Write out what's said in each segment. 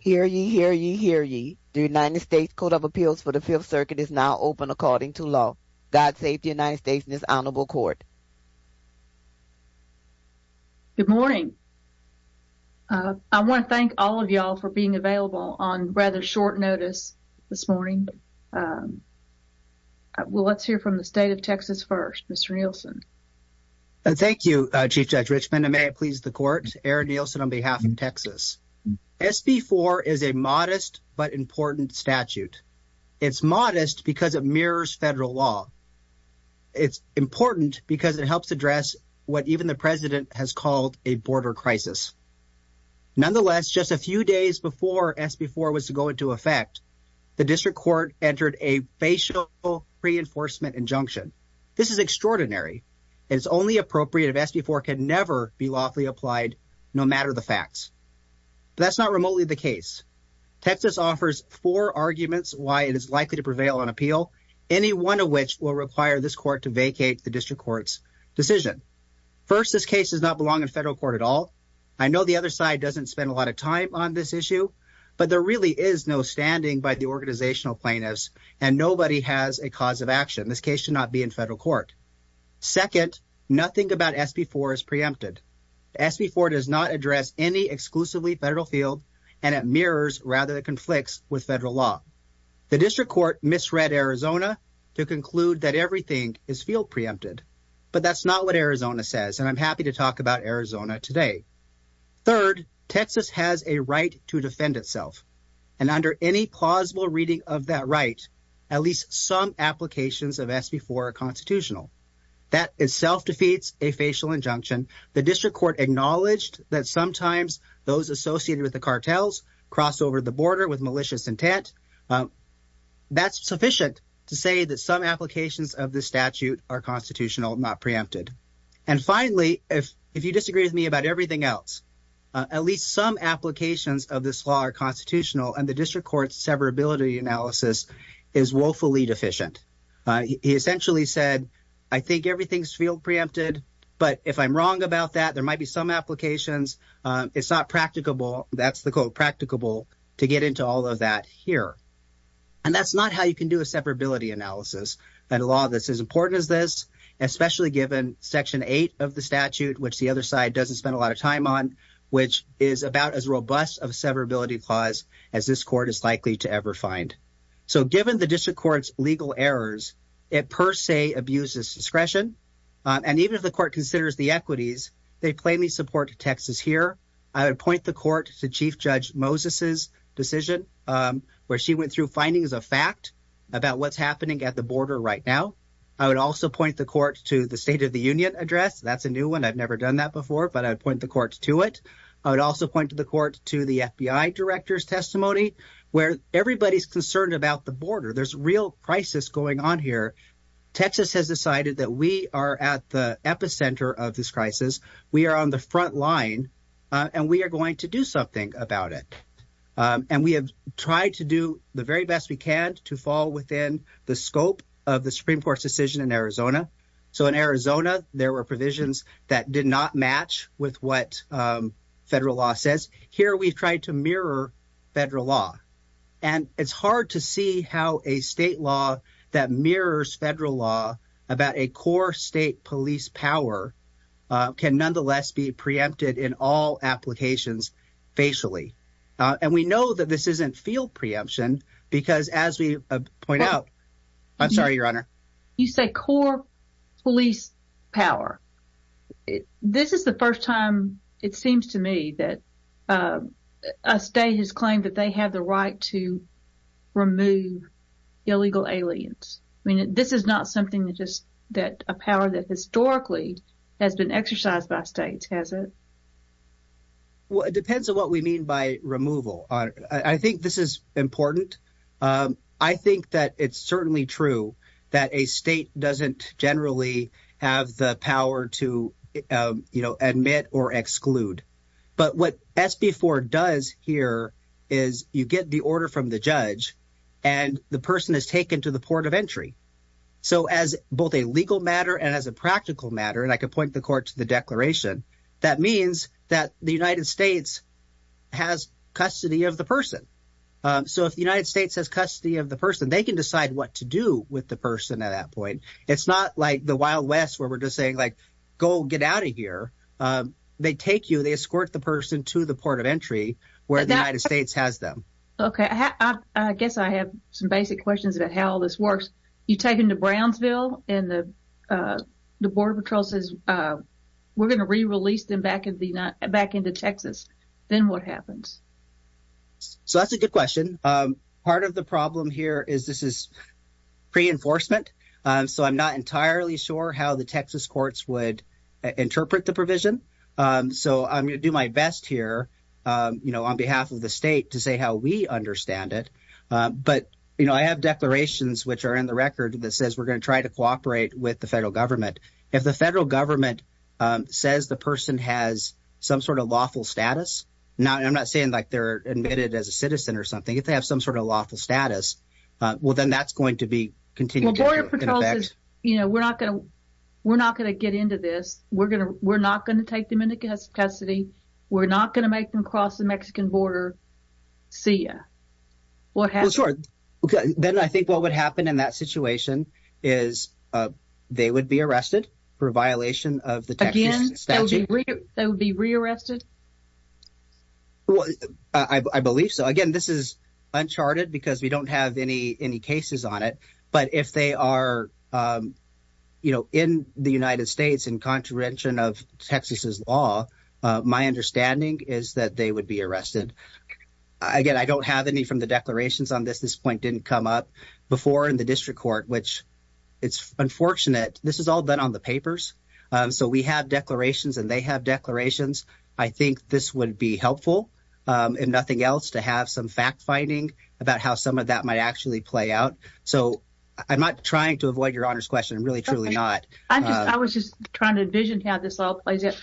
Hear ye, hear ye, hear ye. The United States Court of Appeals for the Fifth Circuit is now open according to law. God save the United States and his Honorable Court. Good morning. I want to thank all of y'all for being available on rather short notice this morning. Well, let's hear from the State of Texas first, Mr. Nielsen. Thank you, Chief Judge Richmond. And may it please the Court, Aaron Nielsen on behalf of Texas. SB 4 is a modest but important statute. It's modest because it mirrors federal law. It's important because it helps address what even the President has called a border crisis. Nonetheless, just a few days before SB 4 was to go into effect, the District Court entered a facial reinforcement injunction. This is extraordinary. It's only appropriate if SB 4 can never be lawfully applied no matter the facts. That's not remotely the case. Texas offers four arguments why it is likely to prevail on appeal, any one of which will require this court to vacate the District Court's decision. First, this case does not belong in federal court at all. I know the other side doesn't spend a lot of time on this issue, but there really is no standing by the organizational plaintiffs and nobody has a cause of action. This case should not be in federal court. Second, nothing about SB 4 is preempted. SB 4 does not address any exclusively federal field and it mirrors rather it conflicts with federal law. The District Court misread Arizona to conclude that everything is field preempted, but that's not what And under any plausible reading of that right, at least some applications of SB 4 are constitutional. That itself defeats a facial injunction. The District Court acknowledged that sometimes those associated with the cartels cross over the border with malicious intent. That's sufficient to say that some applications of the statute are constitutional, not preempted. And finally, if you disagree with me about everything else, at least some applications of this law are constitutional, and the District Court's severability analysis is woefully deficient. He essentially said, I think everything's field preempted, but if I'm wrong about that, there might be some applications. It's not practicable. That's the quote, practicable, to get into all of that here. And that's not how you can do a severability analysis at a law that's as important as this, which the other side doesn't spend a lot of time on, which is about as robust of severability clause as this court is likely to ever find. So given the District Court's legal errors, it per se abuses discretion. And even if the court considers the equities, they plainly support Texas here. I would point the court to Chief Judge Moses's decision where she went through findings of fact about what's happening at the border right now. I would also point the court to the State of the Union address. That's a new one. I've never done that before, but I'd point the court to it. I would also point the court to the FBI director's testimony where everybody's concerned about the border. There's a real crisis going on here. Texas has decided that we are at the epicenter of this crisis. We are on the front line, and we are going to do something about it. And we have tried to do the very best we can to fall within the scope of the Supreme Court's decision in Arizona. So in Arizona, there were provisions that did not match with what federal law says. Here we've tried to mirror federal law. And it's hard to see how a state law that mirrors federal law about a core state police power can nonetheless be preempted in all applications facially. And we know that this isn't field preemption because as we point out, I'm sorry, Your Honor. You say core police power. This is the first time, it seems to me, that a state has claimed that they have the right to remove illegal aliens. I mean, this is not something that a power that historically has been exercised by states, has it? Well, it depends on what we mean by removal. I think this is important. I think that it's certainly true that a state doesn't generally have the power to, you know, admit or exclude. But what SB 4 does here is you get the order from the judge and the person is taken to the port of entry. So as both a legal matter and as a practical matter, and I could point the court to the declaration, that means that the United States has custody of the person. So if the United States has custody of the person, they can decide what to do with the person at that point. It's not like the Wild West where we're just saying, like, go get out of here. They take you, they escort the person to the port of entry where the United States has them. OK, I guess I have some basic questions about how this works. You take him to Brownsville and the Border Patrol says we're going to re-release them back into Texas. Then what happens? So that's a good question. Part of the problem here is this is pre-enforcement. So I'm not entirely sure how the Texas courts would interpret the provision. So I'm going to do my best here, you know, on behalf of the state to say how we understand it. But, you know, I have declarations which are in the record that says we're going to try to cooperate with the federal government. If the federal government says the person has some sort of lawful status. Now, I'm not saying like they're admitted as a citizen or something. If they have some sort of lawful status, well, then that's going to be continued. You know, we're not going to we're not going to get into this. We're going to we're not going to take them into custody. We're not going to make them cross the Mexican border. See ya. Well, sure. Then I think what would happen in that situation is they would be arrested for a violation of the Texas statute. Again, they would be re-arrested? Well, I believe so. Again, this is uncharted because we don't have any any cases on it. But if they are, you know, in the United States in contravention of Texas's law, my understanding is that they would be arrested. Again, I don't have any from the declarations on this. This point didn't come up before in the district court, which it's unfortunate. This is all done on the papers. So we have declarations and they have declarations. I think this would be helpful and nothing else to have some fact finding about how some of that might actually play out. So I'm not trying to avoid your honor's question, really, truly not. I was just trying to envision how this all plays out.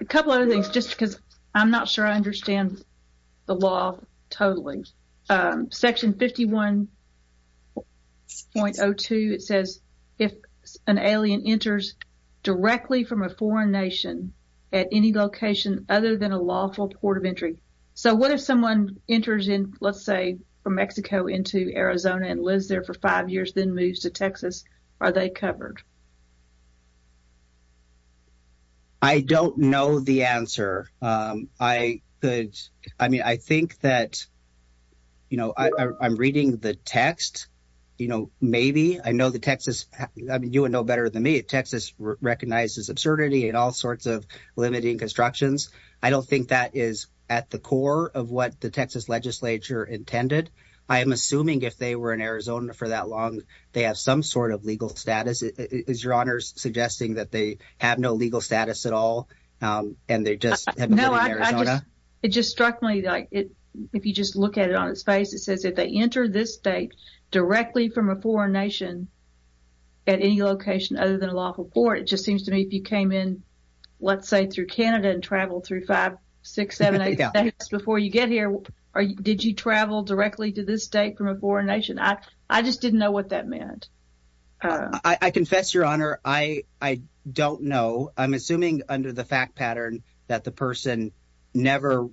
A couple of things, just because I'm not sure I understand the law totally. Section 51.02, it says if an alien enters directly from a foreign nation at any location other than a lawful port of entry. So what if someone enters in, let's say from Mexico into Arizona and lives there for five years, then moves to Texas? Are they covered? I don't know the answer. I could. I mean, I think that, you know, I'm reading the text, you know, maybe I know the Texas. You would know better than me. Texas recognizes absurdity and all sorts of limiting constructions. I don't think that is at the core of what the Texas legislature intended. I am assuming if they were in Arizona for that long, they have some sort of legal status. Is your honor's suggesting that they have no legal status at all and they just know it just struck me. If you just look at it on its face, it says if they enter this state directly from a foreign nation. At any location other than a lawful port, it just seems to me if you came in, let's say, through Canada and travel through five, six, seven days before you get here. Did you travel directly to this state from a foreign nation? I just didn't know what that meant. I confess, Your Honor, I don't know. I'm assuming under the fact pattern that the person never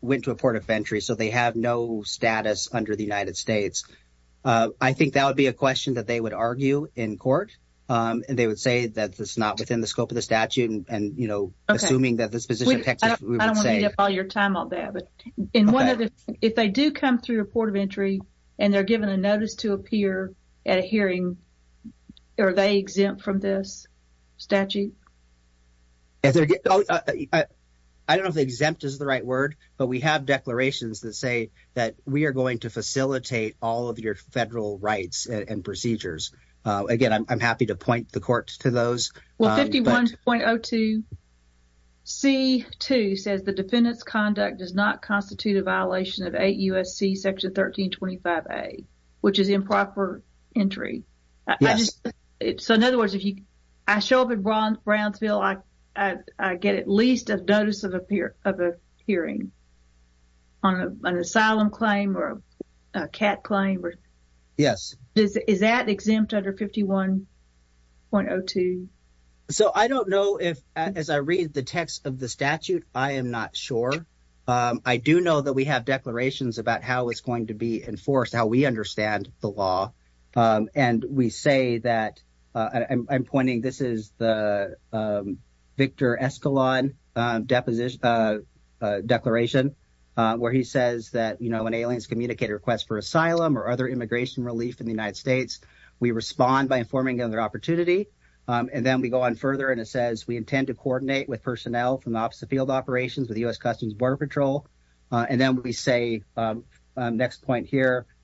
went to a port of entry, so they have no status under the United States. I think that would be a question that they would argue in court. And they would say that it's not within the scope of the statute. And, you know, assuming that this position, I don't want to eat up all your time on that. But if they do come through a port of entry and they're given a notice to appear at a hearing, are they exempt from this statute? I don't know if exempt is the right word, but we have declarations that say that we are going to facilitate all of your federal rights and procedures. Again, I'm happy to point the court to those. Well, 51.02C2 says the defendant's conduct does not constitute a violation of 8 U.S.C. Section 1325A, which is improper entry. So, in other words, if I show up at Brownsville, I get at least a notice of appearing on an asylum claim or a CAT claim? Yes. Is that exempt under 51.02? So I don't know if, as I read the text of the statute, I am not sure. I do know that we have declarations about how it's going to be enforced, how we understand the law. And we say that – I'm pointing – this is the Victor Escalon declaration, where he says that, you know, when aliens communicate a request for asylum or other immigration relief in the United States, we respond by informing them of their opportunity. And then we go on further, and it says we intend to coordinate with personnel from the Office of Field Operations with U.S. Customs and Border Patrol. And then we say – next point here –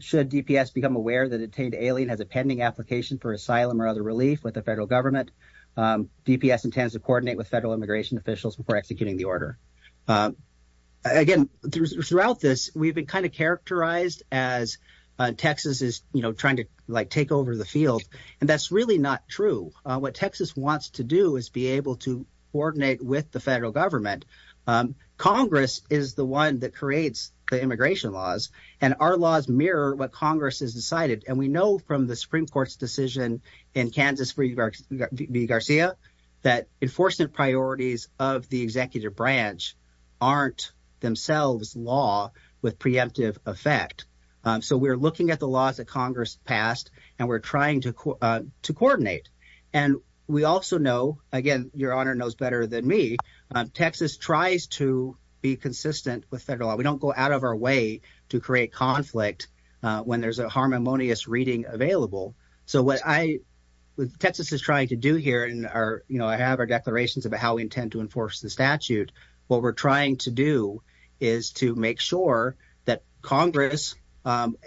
should DPS become aware that a detained alien has a pending application for asylum or other relief with the federal government, DPS intends to coordinate with federal immigration officials before executing the order. Again, throughout this, we've been kind of characterized as Texas is, you know, trying to, like, take over the field. And that's really not true. What Texas wants to do is be able to coordinate with the federal government. Congress is the one that creates the immigration laws, and our laws mirror what Congress has decided. And we know from the Supreme Court's decision in Kansas v. Garcia that enforcement priorities of the executive branch aren't themselves law with preemptive effect. So we're looking at the laws that Congress passed, and we're trying to coordinate. And we also know – again, Your Honor knows better than me – Texas tries to be consistent with federal law. We don't go out of our way to create conflict when there's a harmonious reading available. So what I – what Texas is trying to do here in our – you know, I have our declarations about how we intend to enforce the statute. What we're trying to do is to make sure that Congress,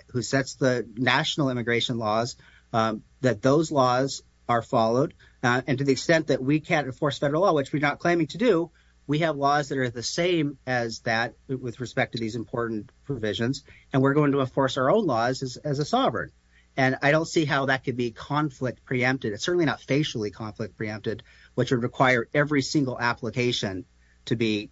who sets the national immigration laws, that those laws are followed. And to the extent that we can't enforce federal law, which we're not claiming to do, we have laws that are the same as that with respect to these important provisions. And we're going to enforce our own laws as a sovereign. And I don't see how that could be conflict preempted. It's certainly not facially conflict preempted, which would require every single application to be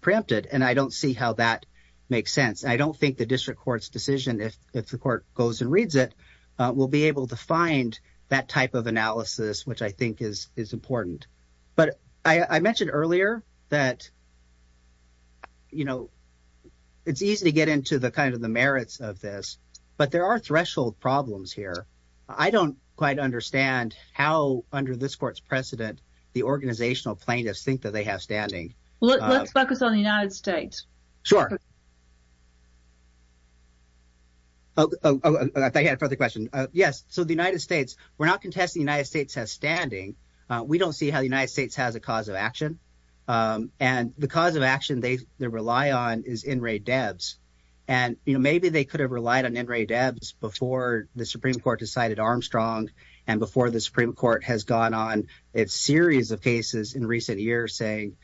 preempted. And I don't see how that makes sense. And I don't think the district court's decision, if the court goes and reads it, will be able to find that type of analysis, which I think is important. But I mentioned earlier that, you know, it's easy to get into the kind of the merits of this, but there are threshold problems here. I don't quite understand how, under this court's precedent, the organizational plaintiffs think that they have standing. Let's focus on the United States. Sure. Oh, I thought you had a further question. Yes, so the United States, we're not contesting the United States has standing. We don't see how the United States has a cause of action. And the cause of action they rely on is in raid devs. And, you know, maybe they could have relied on in raid devs before the Supreme Court decided Armstrong and before the Supreme Court has gone on a series of cases in recent years saying,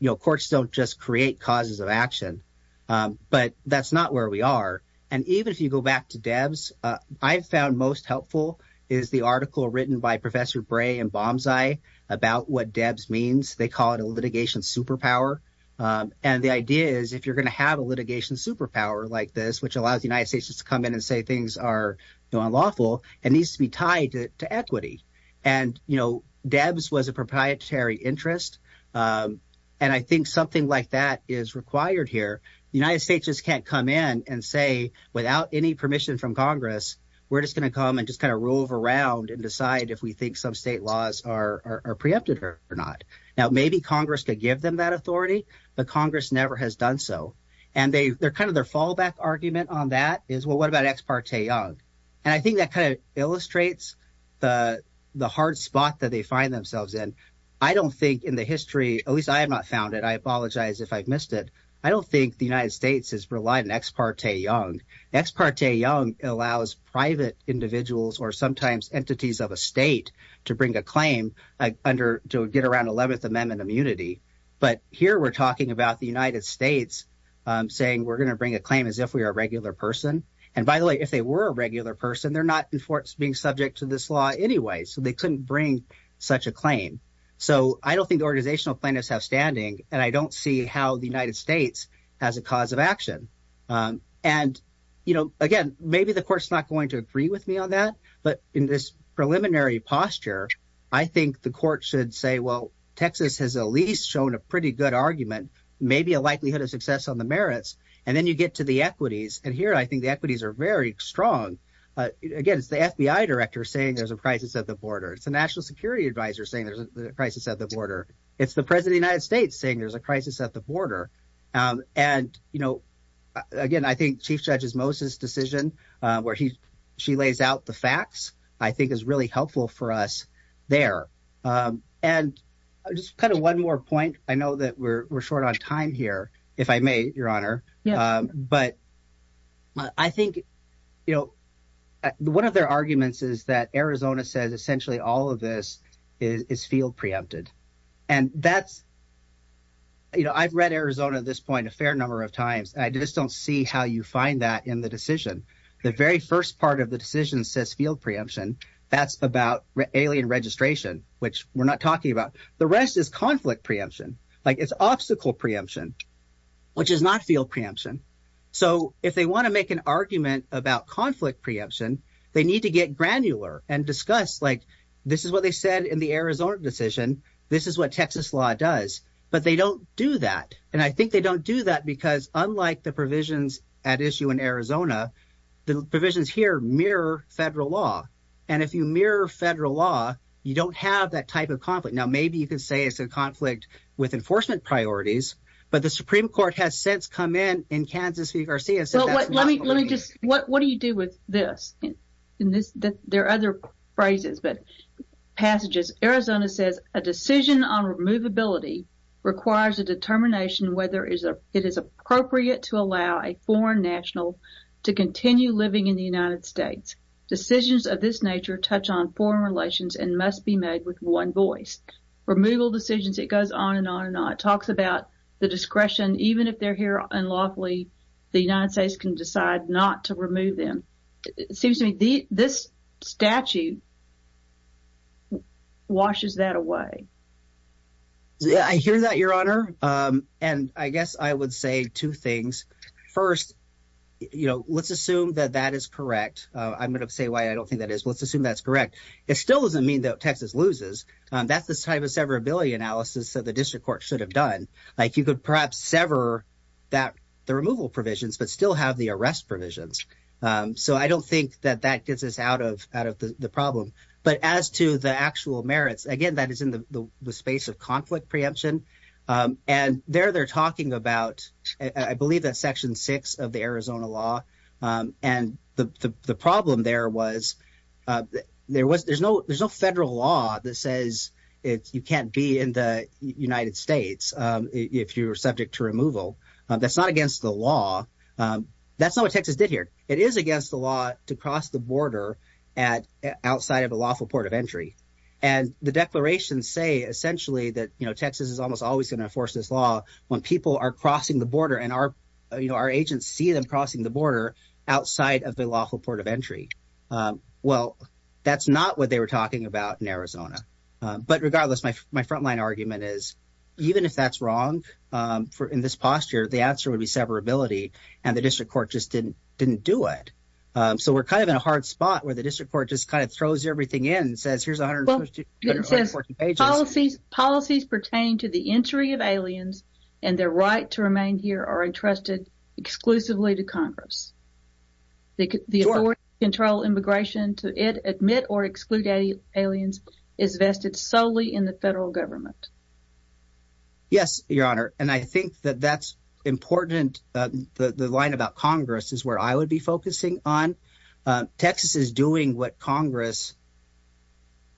you know, courts don't just create causes of action. But that's not where we are. And even if you go back to devs, I've found most helpful is the article written by Professor Bray and bombs. I about what devs means. They call it a litigation superpower. And the idea is, if you're going to have a litigation superpower like this, which allows the United States to come in and say things are unlawful and needs to be tied to equity. And, you know, devs was a proprietary interest. And I think something like that is required here. United States just can't come in and say without any permission from Congress, we're just going to come and just kind of rove around and decide if we think some state laws are preempted or not. Now, maybe Congress could give them that authority. The Congress never has done so. And they're kind of their fallback argument on that is, well, what about ex parte young? And I think that kind of illustrates the hard spot that they find themselves in. I don't think in the history, at least I have not found it. I apologize if I've missed it. I don't think the United States has relied on ex parte young. Ex parte young allows private individuals or sometimes entities of a state to bring a claim to get around 11th Amendment immunity. But here we're talking about the United States saying we're going to bring a claim as if we are a regular person. And by the way, if they were a regular person, they're not being subject to this law anyway. So they couldn't bring such a claim. So I don't think organizational plaintiffs have standing. And I don't see how the United States has a cause of action. And, you know, again, maybe the court's not going to agree with me on that. But in this preliminary posture, I think the court should say, well, Texas has at least shown a pretty good argument, maybe a likelihood of success on the merits. And then you get to the equities. And here I think the equities are very strong. Again, it's the FBI director saying there's a crisis at the border. It's a national security adviser saying there's a crisis at the border. It's the president United States saying there's a crisis at the border. And, you know, again, I think Chief Judge's Moses decision where he she lays out the facts, I think, is really helpful for us there. And just kind of one more point. I know that we're short on time here, if I may, Your Honor. But I think, you know, one of their arguments is that Arizona says essentially all of this is field preempted. And that's, you know, I've read Arizona at this point a fair number of times. I just don't see how you find that in the decision. The very first part of the decision says field preemption. That's about alien registration, which we're not talking about. The rest is conflict preemption. Like, it's obstacle preemption, which is not field preemption. So if they want to make an argument about conflict preemption, they need to get granular and discuss, like, this is what they said in the Arizona decision. This is what Texas law does. But they don't do that. And I think they don't do that because unlike the provisions at issue in Arizona, the provisions here mirror federal law. And if you mirror federal law, you don't have that type of conflict. Now, maybe you could say it's a conflict with enforcement priorities. But the Supreme Court has since come in in Kansas v. Garcia. Let me just what do you do with this? There are other phrases, but passages. Arizona says a decision on removability requires a determination whether it is appropriate to allow a foreign national to continue living in the United States. Decisions of this nature touch on foreign relations and must be made with one voice. Removal decisions, it goes on and on and on. It talks about the discretion. Even if they're here unlawfully, the United States can decide not to remove them. It seems to me this statute washes that away. I hear that, Your Honor. And I guess I would say two things. First, you know, let's assume that that is correct. I'm going to say why I don't think that is. Let's assume that's correct. It still doesn't mean that Texas loses. That's the type of severability analysis that the district court should have done. You could perhaps sever the removal provisions but still have the arrest provisions. So I don't think that that gets us out of the problem. But as to the actual merits, again, that is in the space of conflict preemption. And there they're talking about, I believe that's Section 6 of the Arizona law. And the problem there was there's no federal law that says you can't be in the United States if you're subject to removal. That's not against the law. That's not what Texas did here. It is against the law to cross the border outside of a lawful port of entry. And the declarations say essentially that, you know, Texas is almost always going to enforce this law when people are crossing the border and our agents see them crossing the border outside of the lawful port of entry. Well, that's not what they were talking about in Arizona. But regardless, my frontline argument is even if that's wrong in this posture, the answer would be severability. And the district court just didn't do it. So we're kind of in a hard spot where the district court just kind of throws everything in and says here's 140 pages. Policies pertain to the entry of aliens and their right to remain here are entrusted exclusively to Congress. The authority to control immigration, to admit or exclude aliens is vested solely in the federal government. Yes, Your Honor. And I think that that's important. The line about Congress is where I would be focusing on. Texas is doing what Congress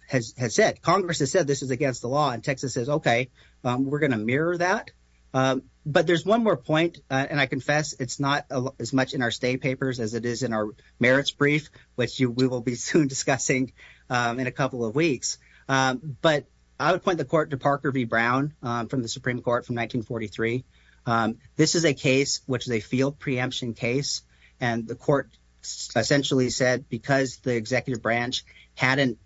has said. Congress has said this is against the law. And Texas says, OK, we're going to mirror that. But there's one more point. And I confess it's not as much in our state papers as it is in our merits brief, which we will be soon discussing in a couple of weeks. But I would point the court to Parker v. Brown from the Supreme Court from 1943. This is a case which is a field preemption case. And the court essentially said because the executive branch hadn't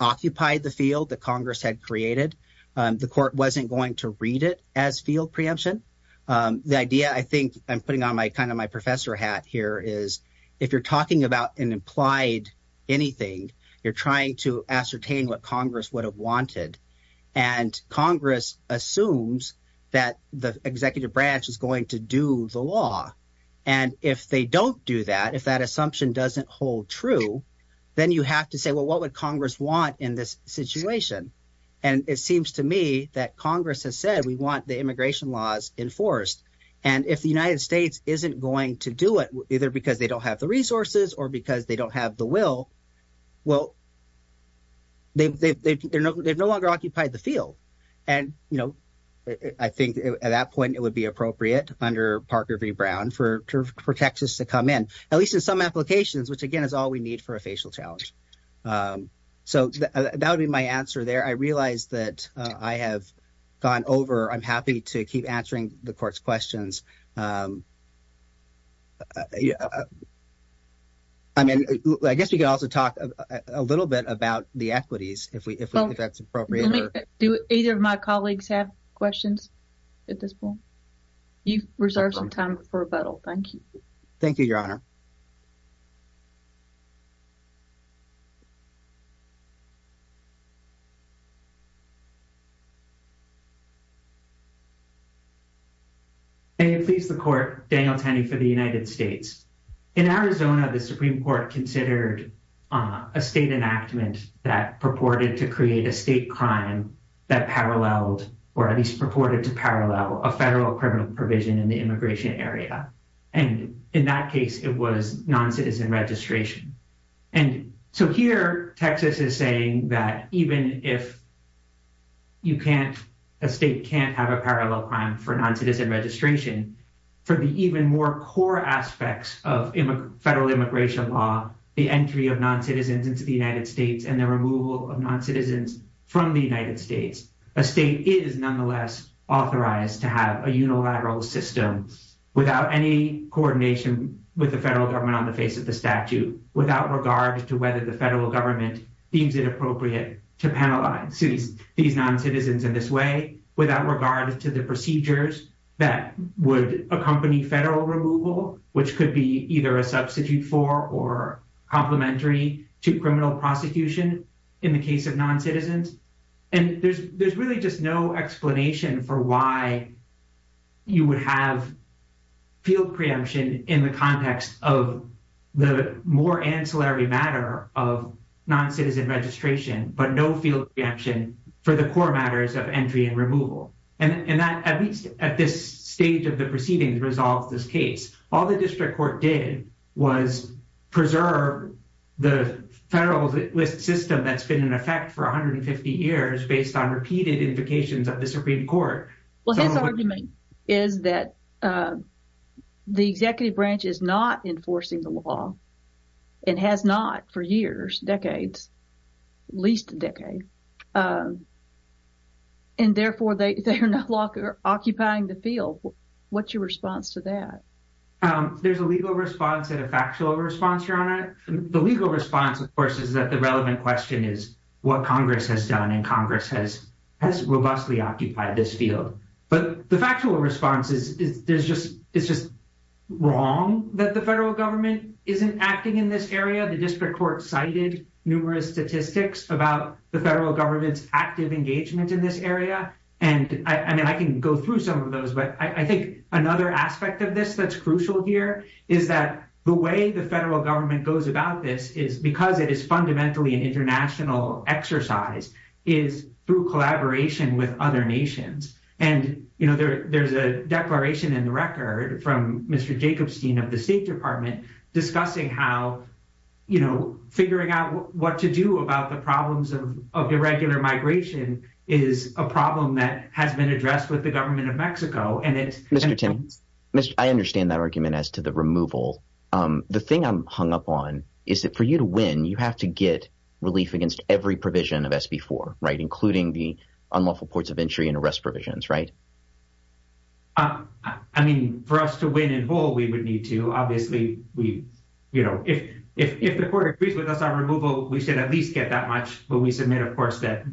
occupied the field that Congress had created, the court wasn't going to read it as field preemption. The idea I think I'm putting on my kind of my professor hat here is if you're talking about an implied anything, you're trying to ascertain what Congress would have wanted. And Congress assumes that the executive branch is going to do the law. And if they don't do that, if that assumption doesn't hold true, then you have to say, well, what would Congress want in this situation? And it seems to me that Congress has said we want the immigration laws enforced. And if the United States isn't going to do it, either because they don't have the resources or because they don't have the will, well, they've no longer occupied the field. And, you know, I think at that point it would be appropriate under Parker v. Brown for Texas to come in, at least in some applications, which, again, is all we need for a facial challenge. So that would be my answer there. I realize that I have gone over. I'm happy to keep answering the court's questions. I mean, I guess we can also talk a little bit about the equities, if that's appropriate. Do either of my colleagues have questions at this point? You've reserved some time for rebuttal. Thank you. Thank you, Your Honor. May it please the court, Daniel Tenney for the United States. In Arizona, the Supreme Court considered a state enactment that purported to create a state crime that paralleled, or at least purported to parallel, a federal criminal provision in the immigration area. And in that case, it was noncitizen registration. And so here Texas is saying that even if you can't, a state can't have a parallel crime for noncitizen registration, for the even more core aspects of federal immigration law, the entry of noncitizens into the United States and the removal of noncitizens from the United States, a state is nonetheless authorized to have a unilateral system without any coordination with the federal government on the face of the statute. Without regard to whether the federal government deems it appropriate to penalize these noncitizens in this way, without regard to the procedures that would accompany federal removal, which could be either a substitute for or complementary to criminal prosecution in the case of noncitizens. And there's really just no explanation for why you would have field preemption in the context of the more ancillary matter of noncitizen registration, but no field preemption for the core matters of entry and removal. And that, at least at this stage of the proceedings, resolves this case. All the district court did was preserve the federal system that's been in effect for 150 years based on repeated invocations of the Supreme Court. Well, his argument is that the executive branch is not enforcing the law and has not for years, decades, at least a decade. And therefore, they are no longer occupying the field. What's your response to that? There's a legal response and a factual response, Your Honor. The legal response, of course, is that the relevant question is what Congress has done, and Congress has robustly occupied this field. But the factual response is it's just wrong that the federal government isn't acting in this area. The district court cited numerous statistics about the federal government's active engagement in this area. And I mean, I can go through some of those, but I think another aspect of this that's crucial here is that the way the federal government goes about this is because it is fundamentally an international exercise, is through collaboration with other nations. And, you know, there there's a declaration in the record from Mr. Jacobson of the State Department discussing how, you know, figuring out what to do about the problems of irregular migration is a problem that has been addressed with the government of Mexico. Mr. Timmons, I understand that argument as to the removal. The thing I'm hung up on is that for you to win, you have to get relief against every provision of SB4, right, including the unlawful ports of entry and arrest provisions, right? I mean, for us to win in full, we would need to obviously, you know, if the court agrees with us on removal, we should at least get that much. But we submit, of course, that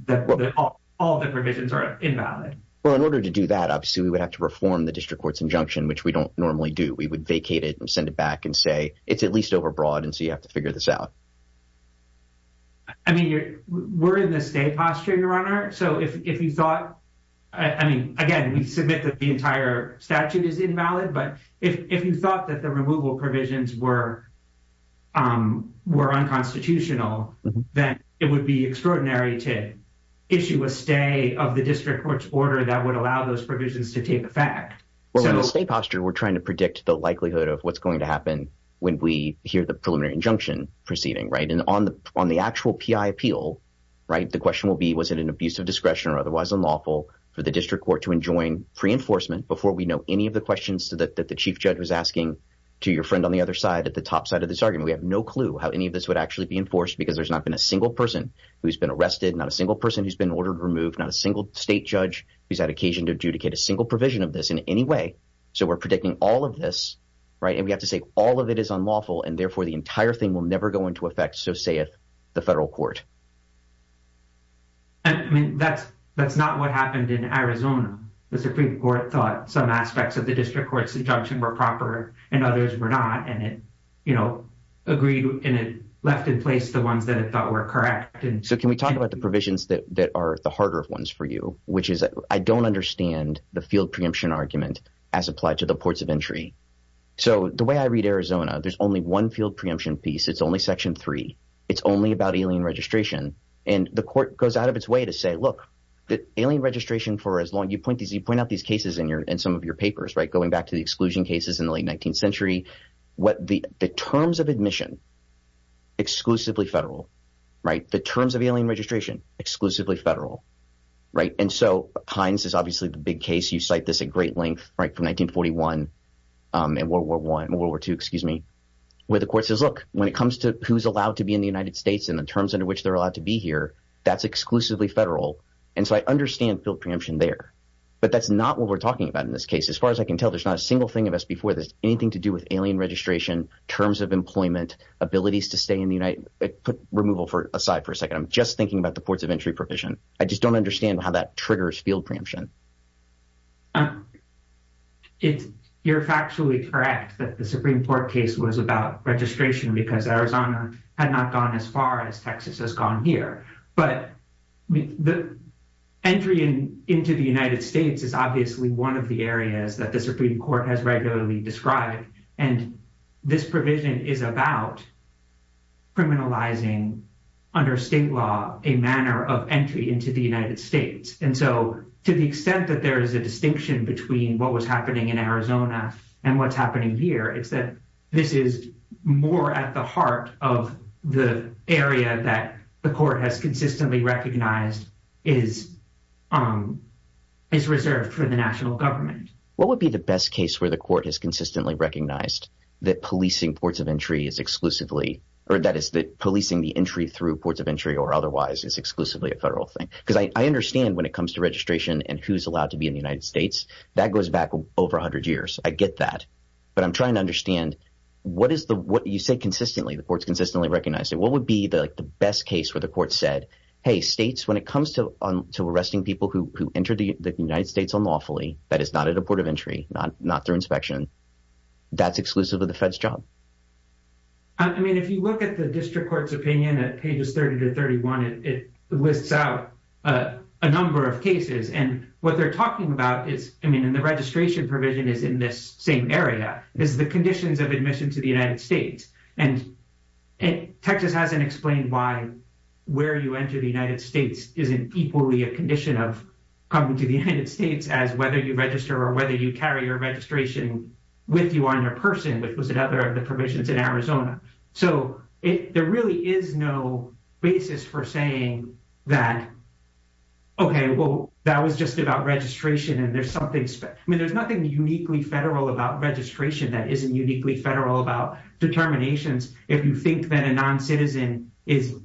all the provisions are invalid. Well, in order to do that, obviously, we would have to reform the district court's injunction, which we don't normally do. We would vacate it and send it back and say it's at least overbroad. And so you have to figure this out. I mean, we're in the state posture, Your Honor. So if you thought I mean, again, we submit that the entire statute is invalid. But if you thought that the removal provisions were were unconstitutional, then it would be extraordinary to issue a stay of the district court's order that would allow those provisions to take effect. We're in the state posture. We're trying to predict the likelihood of what's going to happen when we hear the preliminary injunction proceeding. Right. And on the on the actual P.I. appeal. Right. The question will be, was it an abuse of discretion or otherwise unlawful for the district court to enjoin free enforcement before we know any of the questions that the chief judge was asking to your friend on the other side at the top side of this argument? We have no clue how any of this would actually be enforced because there's not been a single person who's been arrested, not a single person who's been ordered removed, not a single state judge who's had occasion to adjudicate a single provision of this in any way. So we're predicting all of this. Right. And we have to say all of it is unlawful. And therefore, the entire thing will never go into effect. So say if the federal court. I mean, that's that's not what happened in Arizona. The Supreme Court thought some aspects of the district court's injunction were proper and others were not. And it, you know, agreed and it left in place the ones that it thought were correct. And so can we talk about the provisions that are the harder ones for you, which is I don't understand the field preemption argument as applied to the ports of entry. So the way I read Arizona, there's only one field preemption piece. It's only section three. It's only about alien registration. And the court goes out of its way to say, look, the alien registration for as long you point these you point out these cases in your in some of your papers. Right. Going back to the exclusion cases in the late 19th century. What the terms of admission. Exclusively federal. Right. The terms of alien registration. Exclusively federal. Right. And so Heinz is obviously the big case. You cite this a great length. Right. From 1941 and World War One. World War Two. Excuse me. Where the court says, look, when it comes to who's allowed to be in the United States and the terms under which they're allowed to be here, that's exclusively federal. And so I understand field preemption there. But that's not what we're talking about in this case. As far as I can tell, there's not a single thing of us before. There's anything to do with alien registration, terms of employment, abilities to stay in the United States. Let's put removal for aside for a second. I'm just thinking about the courts of entry provision. I just don't understand how that triggers field preemption. It's you're factually correct that the Supreme Court case was about registration because Arizona had not gone as far as Texas has gone here. But the entry into the United States is obviously one of the areas that the Supreme Court has regularly described. And this provision is about. Criminalizing under state law, a manner of entry into the United States. And so to the extent that there is a distinction between what was happening in Arizona and what's happening here, it's that this is more at the heart of the area that the court has consistently recognized is is reserved for the national government. What would be the best case where the court has consistently recognized that policing ports of entry is exclusively or that is that policing the entry through ports of entry or otherwise is exclusively a federal thing? Because I understand when it comes to registration and who's allowed to be in the United States, that goes back over 100 years. I get that. But I'm trying to understand what is the what you say consistently. The courts consistently recognized it. What would be the best case where the court said, hey, states, when it comes to arresting people who entered the United States unlawfully, that is not a port of entry, not not through inspection. That's exclusive of the Fed's job. I mean, if you look at the district court's opinion at pages 30 to 31, it lists out a number of cases. And what they're talking about is, I mean, and the registration provision is in this same area is the conditions of admission to the United States. And Texas hasn't explained why where you enter the United States isn't equally a condition of coming to the United States as whether you register or whether you carry your registration with you on your person, which was another of the permissions in Arizona. So there really is no basis for saying that. OK, well, that was just about registration and there's something I mean, there's nothing uniquely federal about registration that isn't uniquely federal about determinations. If you think that a noncitizen is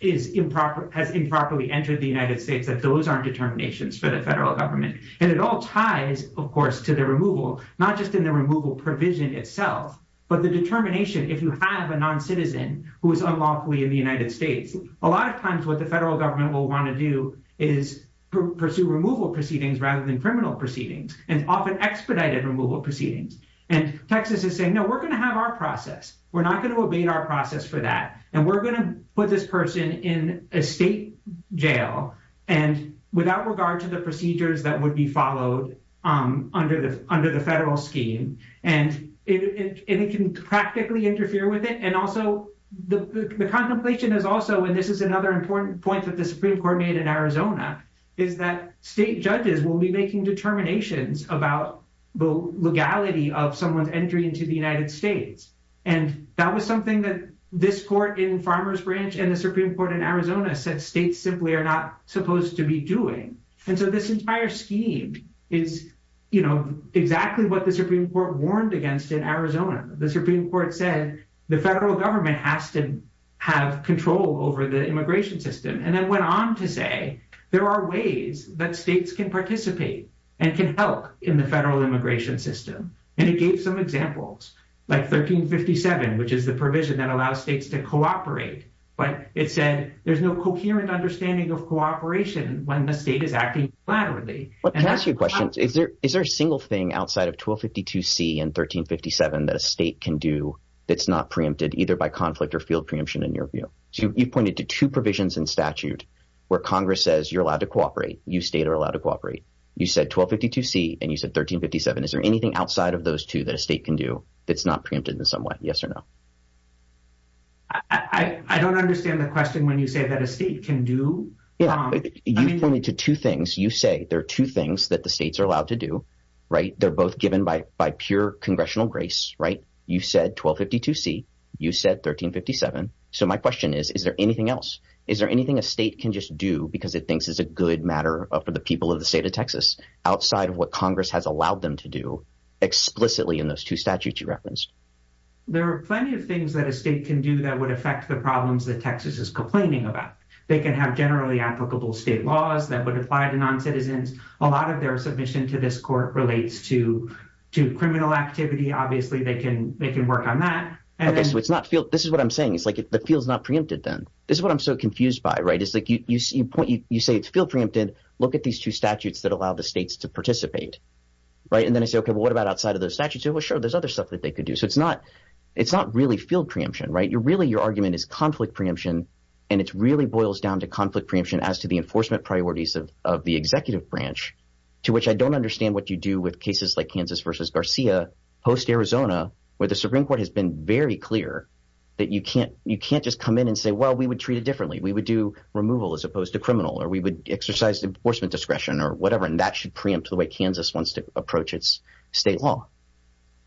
is improper, has improperly entered the United States, that those are determinations for the federal government. And it all ties, of course, to the removal, not just in the removal provision itself, but the determination. If you have a noncitizen who is unlawfully in the United States, a lot of times what the federal government will want to do is pursue removal proceedings rather than criminal proceedings and often expedited removal proceedings. And Texas is saying, no, we're going to have our process. We're not going to obey our process for that. And we're going to put this person in a state jail and without regard to the procedures that would be followed under the under the federal scheme. And it can practically interfere with it. And also the contemplation is also and this is another important point that the Supreme Court made in Arizona is that state judges will be making determinations about the legality of someone's entry into the United States. And that was something that this court in Farmer's Branch and the Supreme Court in Arizona said states simply are not supposed to be doing. And so this entire scheme is exactly what the Supreme Court warned against in Arizona. The Supreme Court said the federal government has to have control over the immigration system and then went on to say there are ways that states can participate and can help in the federal immigration system. And it gave some examples, like 1357, which is the provision that allows states to cooperate. But it said there's no coherent understanding of cooperation when the state is acting laterally. Can I ask you a question? Is there is there a single thing outside of 1252 C and 1357 that a state can do that's not preempted either by conflict or field preemption in your view? You pointed to two provisions in statute where Congress says you're allowed to cooperate. You state are allowed to cooperate. You said 1252 C and you said 1357. Is there anything outside of those two that a state can do that's not preempted in some way? Yes or no? I don't understand the question when you say that a state can do. You pointed to two things. You say there are two things that the states are allowed to do. Right. They're both given by by pure congressional grace. Right. You said 1252 C. You said 1357. So my question is, is there anything else? Is there anything a state can just do because it thinks is a good matter for the people of the state of Texas outside of what Congress has allowed them to do explicitly in those two statutes you referenced? There are plenty of things that a state can do that would affect the problems that Texas is complaining about. They can have generally applicable state laws that would apply to noncitizens. A lot of their submission to this court relates to to criminal activity. Obviously, they can they can work on that. And so it's not feel this is what I'm saying. It's like it feels not preempted. Then this is what I'm so confused by. Right. It's like you point you say it's feel preempted. Look at these two statutes that allow the states to participate. Right. And then I say, OK, what about outside of those statutes? Well, sure. There's other stuff that they could do. So it's not it's not really feel preemption. Right. You're really your argument is conflict preemption. And it's really boils down to conflict preemption as to the enforcement priorities of the executive branch, to which I don't understand what you do with cases like Kansas versus Garcia post Arizona, where the Supreme Court has been very clear that you can't you can't just come in and say, well, we would treat it differently. We would do removal as opposed to criminal or we would exercise enforcement discretion or whatever. And that should preempt the way Kansas wants to approach its state law.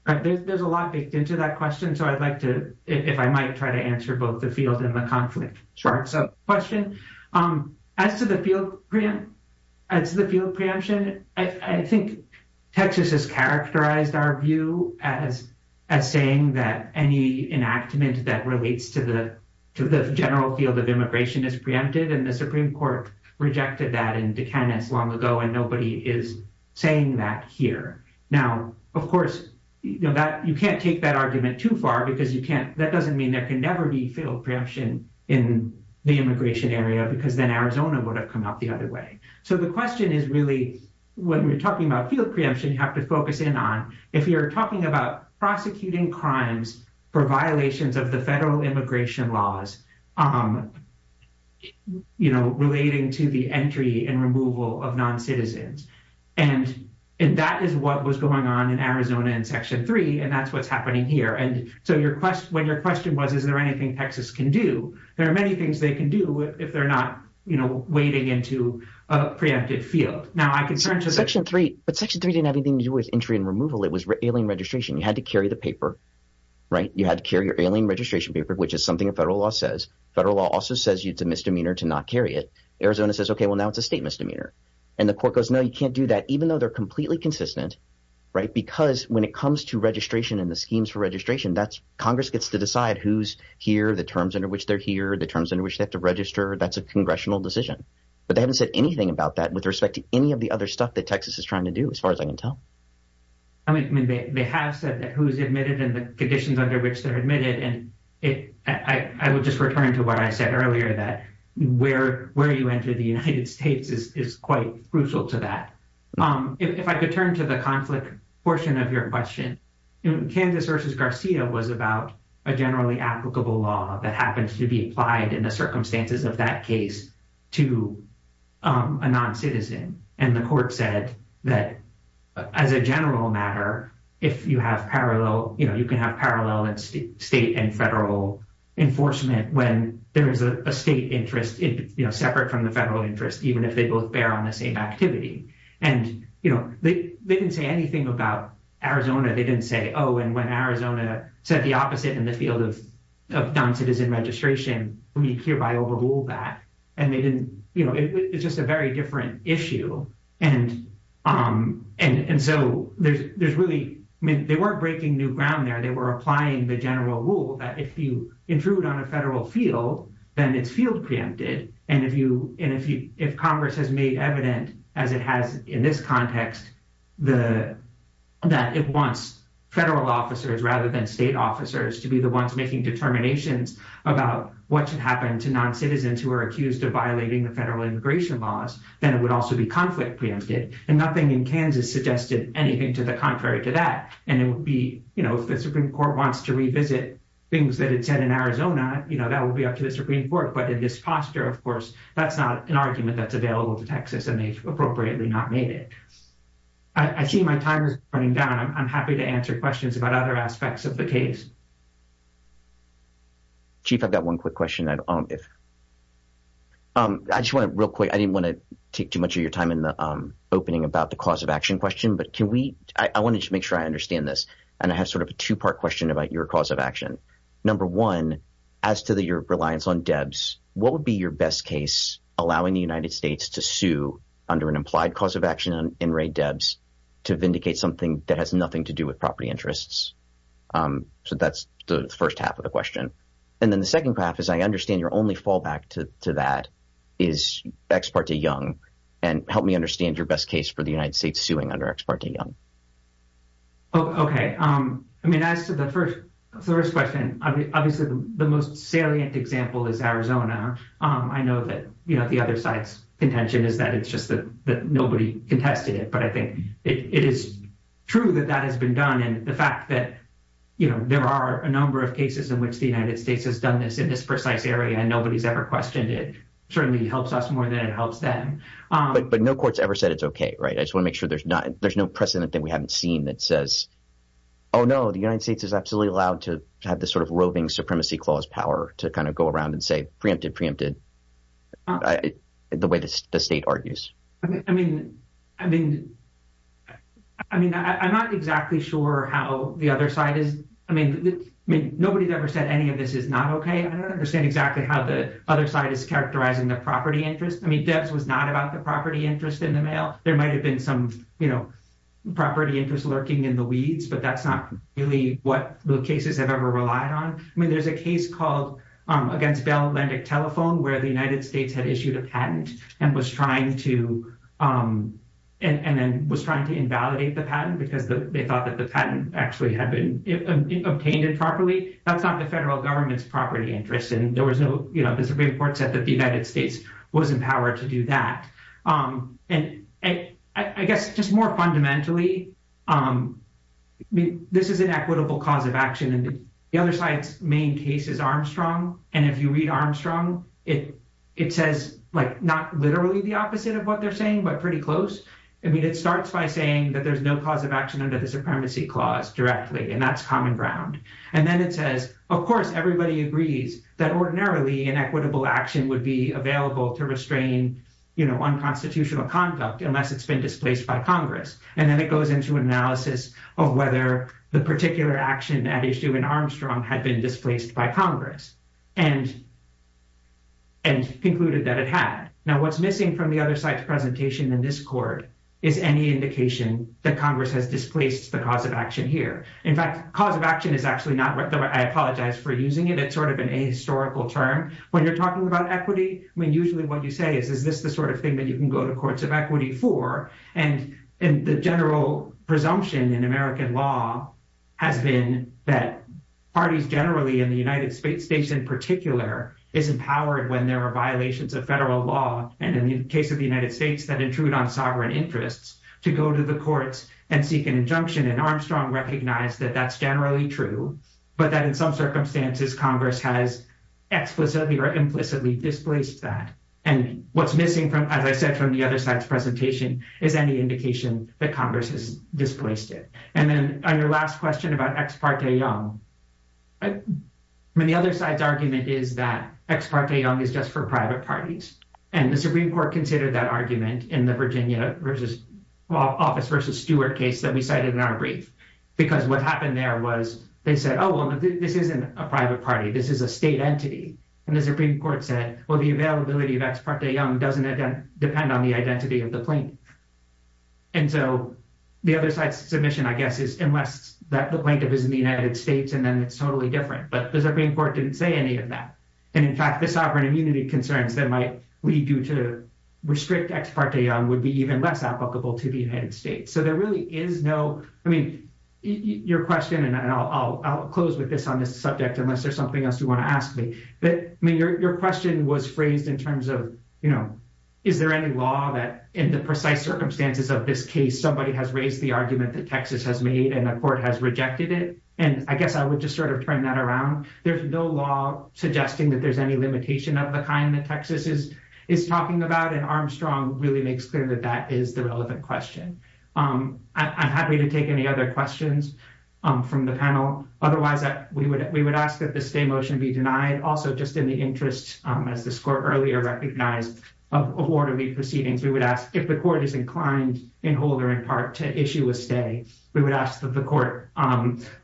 There's a lot baked into that question. So I'd like to if I might try to answer both the field and the conflict. Sure. So question as to the field. As the field preemption, I think Texas has characterized our view as as saying that any enactment that relates to the to the general field of immigration is preempted. And the Supreme Court rejected that into Kansas long ago. And nobody is saying that here. Now, of course, you know that you can't take that argument too far because you can't. That doesn't mean there can never be field preemption in the immigration area, because then Arizona would have come out the other way. So the question is really what we're talking about field preemption. You have to focus in on if you're talking about prosecuting crimes for violations of the federal immigration laws, you know, relating to the entry and removal of noncitizens. And that is what was going on in Arizona in Section three. And that's what's happening here. And so your question when your question was, is there anything Texas can do? There are many things they can do if they're not, you know, wading into a preempted field. Now, I can say Section three, but Section three didn't have anything to do with entry and removal. It was alien registration. You had to carry the paper. Right. You had to carry your alien registration paper, which is something a federal law says. Federal law also says it's a misdemeanor to not carry it. Arizona says, OK, well, now it's a state misdemeanor. And the court goes, no, you can't do that, even though they're completely consistent. Right. Because when it comes to registration and the schemes for registration, that's Congress gets to decide who's here, the terms under which they're here, the terms in which they have to register. That's a congressional decision. But they haven't said anything about that with respect to any of the other stuff that Texas is trying to do as far as I can tell. I mean, they have said that who's admitted and the conditions under which they're admitted. And I will just return to what I said earlier, that where where you enter the United States is quite crucial to that. If I could turn to the conflict portion of your question in Kansas versus Garcia was about a generally applicable law that happens to be applied in the circumstances of that case to a non-citizen. And the court said that as a general matter, if you have parallel, you can have parallel and state and federal enforcement when there is a state interest separate from the federal interest, even if they both bear on the same activity. And, you know, they didn't say anything about Arizona. They didn't say, oh, and when Arizona said the opposite in the field of non-citizen registration, we hereby overrule that. And they didn't you know, it's just a very different issue. And and so there's there's really they weren't breaking new ground there. They were applying the general rule that if you intrude on a federal field, then it's field preempted. And if you and if you if Congress has made evident, as it has in this context, the that it wants federal officers rather than state officers to be the ones making determinations about what should happen to non-citizens who are accused of violating the federal immigration laws, then it would also be conflict preempted. And nothing in Kansas suggested anything to the contrary to that. And it would be, you know, if the Supreme Court wants to revisit things that it said in Arizona, you know, that would be up to the Supreme Court. But in this posture, of course, that's not an argument that's available to Texas and they've appropriately not made it. I see my time is running down. I'm happy to answer questions about other aspects of the case. Chief, I've got one quick question, if. I just want to real quick, I didn't want to take too much of your time in the opening about the cause of action question, but can we I want to make sure I understand this. And I have sort of a two part question about your cause of action. Number one, as to your reliance on Debs, what would be your best case allowing the United States to sue under an implied cause of action and raid Debs to vindicate something that has nothing to do with property interests? So that's the first half of the question. And then the second half is I understand your only fallback to that is ex parte young. And help me understand your best case for the United States suing under ex parte young. OK, I mean, as to the first question, obviously, the most salient example is Arizona. I know that the other side's contention is that it's just that nobody contested it, but I think it is true that that has been done. And the fact that there are a number of cases in which the United States has done this in this precise area and nobody's ever questioned it certainly helps us more than it helps them. But no court's ever said it's OK. Right. I just want to make sure there's not there's no precedent that we haven't seen that says, oh, no, the United States is absolutely allowed to have this sort of roving supremacy clause power to kind of go around and say preempted, preempted the way the state argues. I mean, I mean, I mean, I'm not exactly sure how the other side is. I mean, I mean, nobody's ever said any of this is not OK. I don't understand exactly how the other side is characterizing the property interest. I mean, Debs was not about the property interest in the mail. There might have been some property interest lurking in the weeds, but that's not really what the cases have ever relied on. I mean, there's a case called against Bell Atlantic Telephone, where the United States had issued a patent and was trying to and then was trying to invalidate the patent because they thought that the patent actually had been obtained improperly. That's not the federal government's property interest. And there was no Supreme Court said that the United States was empowered to do that. And I guess just more fundamentally, I mean, this is an equitable cause of action. And the other side's main case is Armstrong. And if you read Armstrong, it it says, like, not literally the opposite of what they're saying, but pretty close. I mean, it starts by saying that there's no cause of action under the supremacy clause directly, and that's common ground. And then it says, of course, everybody agrees that ordinarily an equitable action would be available to restrain unconstitutional conduct unless it's been displaced by Congress. And then it goes into analysis of whether the particular action at issue in Armstrong had been displaced by Congress and concluded that it had. Now, what's missing from the other side's presentation in this court is any indication that Congress has displaced the cause of action here. In fact, cause of action is actually not what I apologize for using it. It's sort of an a historical term when you're talking about equity. I mean, usually what you say is, is this the sort of thing that you can go to courts of equity for? And the general presumption in American law has been that parties generally in the United States in particular is empowered when there are violations of federal law. And in the case of the United States, that intrude on sovereign interests to go to the courts and seek an injunction. And Armstrong recognized that that's generally true, but that in some circumstances, Congress has explicitly or implicitly displaced that. And what's missing from, as I said, from the other side's presentation is any indication that Congress has displaced it. And then on your last question about Ex parte Young, I mean, the other side's argument is that Ex parte Young is just for private parties. And the Supreme Court considered that argument in the Virginia versus office versus Stewart case that we cited in our brief, because what happened there was they said, oh, this isn't a private party. This is a state entity. And the Supreme Court said, well, the availability of Ex parte Young doesn't depend on the identity of the plaintiff. And so the other side's submission, I guess, is unless that the plaintiff is in the United States, and then it's totally different. But the Supreme Court didn't say any of that. And in fact, the sovereign immunity concerns that might lead you to restrict Ex parte Young would be even less applicable to the United States. So there really is no, I mean, your question, and I'll close with this on this subject, unless there's something else you want to ask me. But your question was phrased in terms of, you know, is there any law that in the precise circumstances of this case, somebody has raised the argument that Texas has made and the court has rejected it? And I guess I would just sort of turn that around. There's no law suggesting that there's any limitation of the kind that Texas is talking about. And Armstrong really makes clear that that is the relevant question. I'm happy to take any other questions from the panel. Otherwise, we would ask that the stay motion be denied. Also, just in the interest, as this court earlier recognized, of orderly proceedings, we would ask if the court is inclined in whole or in part to issue a stay, we would ask that the court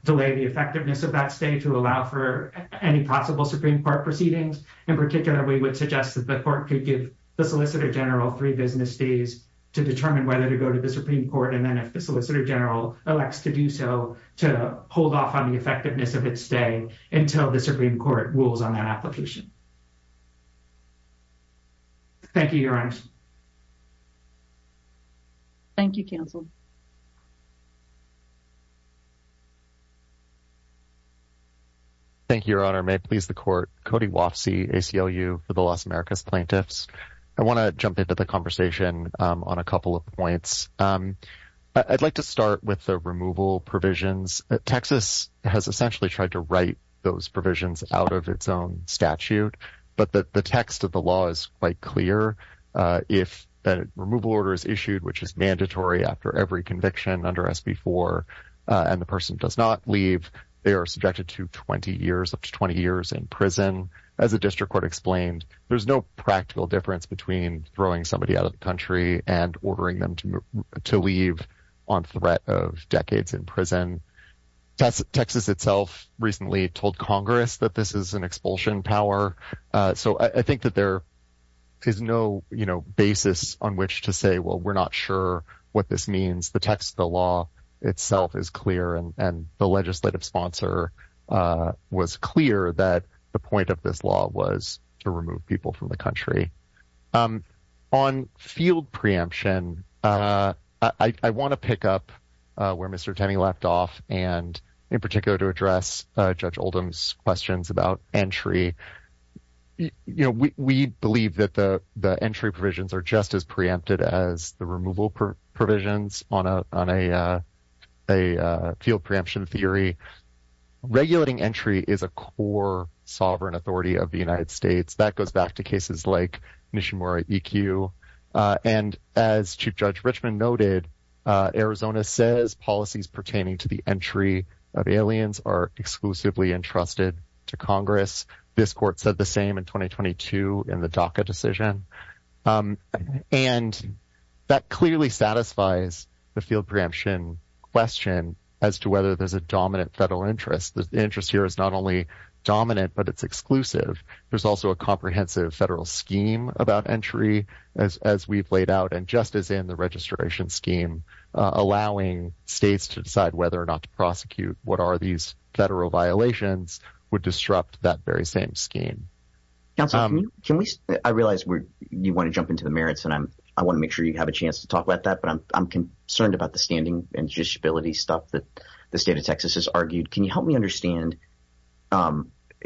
delay the effectiveness of that stay to allow for any possible Supreme Court proceedings. In particular, we would suggest that the court could give the solicitor general three business days to determine whether to go to the Supreme Court. And then if the solicitor general elects to do so, to hold off on the effectiveness of its stay until the Supreme Court rules on that application. Thank you. Thank you, counsel. Thank you, Your Honor. May it please the court. Cody Wofsy, ACLU for the Las Americas plaintiffs. I want to jump into the conversation on a couple of points. I'd like to start with the removal provisions. Texas has essentially tried to write those provisions out of its own statute. But the text of the law is quite clear. If a removal order is issued, which is mandatory after every conviction under SB4, and the person does not leave, they are subjected to 20 years, up to 20 years in prison. As a district court explained, there's no practical difference between throwing somebody out of the country and ordering them to leave on threat of decades in prison. Texas itself recently told Congress that this is an expulsion power. So I think that there is no basis on which to say, well, we're not sure what this means. The text of the law itself is clear, and the legislative sponsor was clear that the point of this law was to remove people from the country. On field preemption, I want to pick up where Mr. Tenney left off, and in particular to address Judge Oldham's questions about entry. We believe that the entry provisions are just as preempted as the removal provisions on a field preemption theory. Regulating entry is a core sovereign authority of the United States. That goes back to cases like Nishimura E.Q. And as Chief Judge Richmond noted, Arizona says policies pertaining to the entry of aliens are exclusively entrusted to Congress. This court said the same in 2022 in the DACA decision. And that clearly satisfies the field preemption question as to whether there's a dominant federal interest. The interest here is not only dominant, but it's exclusive. There's also a comprehensive federal scheme about entry, as we've laid out, and just as in the registration scheme, allowing states to decide whether or not to prosecute what are these federal violations would disrupt that very same scheme. I realize you want to jump into the merits, and I want to make sure you have a chance to talk about that, but I'm concerned about the standing and judicial ability stuff that the state of Texas has argued. Can you help me understand?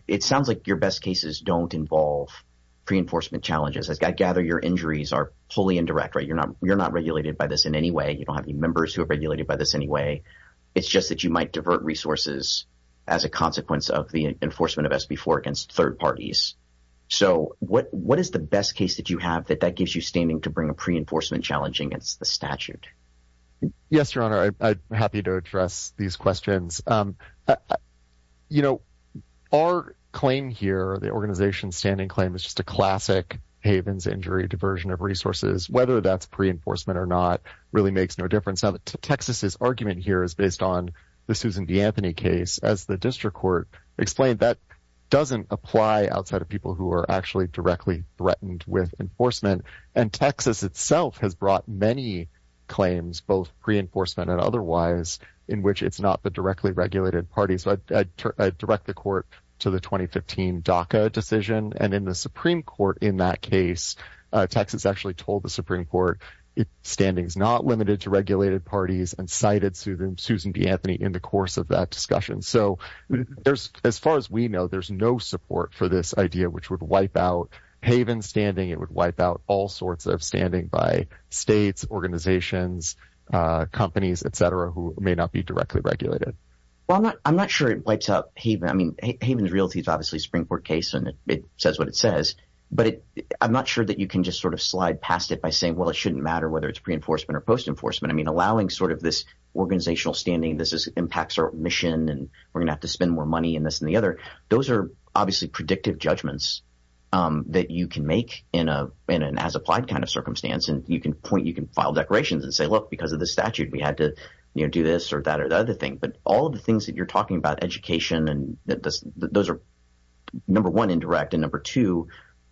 It sounds like your best cases don't involve pre-enforcement challenges. I gather your injuries are wholly indirect, right? You're not regulated by this in any way. You don't have any members who are regulated by this anyway. It's just that you might divert resources as a consequence of the enforcement of SB4 against third parties. So what is the best case that you have that that gives you standing to bring a pre-enforcement challenge against the statute? Yes, Your Honor. I'm happy to address these questions. Our claim here, the organization's standing claim, is just a classic Havens injury diversion of resources. Whether that's pre-enforcement or not really makes no difference. Now, Texas's argument here is based on the Susan D. Anthony case. As the district court explained, that doesn't apply outside of people who are actually directly threatened with enforcement. And Texas itself has brought many claims, both pre-enforcement and otherwise, in which it's not the directly regulated parties. So I direct the court to the 2015 DACA decision. And in the Supreme Court in that case, Texas actually told the Supreme Court, standing's not limited to regulated parties, and cited Susan D. Anthony in the course of that discussion. So as far as we know, there's no support for this idea, which would wipe out Havens standing. It would wipe out all sorts of standing by states, organizations, companies, etc., who may not be directly regulated. Well, I'm not sure it wipes out Havens. I mean, Havens' realty is obviously a Supreme Court case, and it says what it says. But I'm not sure that you can just sort of slide past it by saying, well, it shouldn't matter whether it's pre-enforcement or post-enforcement. I mean, allowing sort of this organizational standing, this impacts our mission, and we're going to have to spend more money in this and the other, those are obviously predictive judgments that you can make in an as-applied kind of circumstance. And you can point – you can file declarations and say, look, because of the statute, we had to do this or that or the other thing. But all of the things that you're talking about, education, those are, number one, indirect. And number two,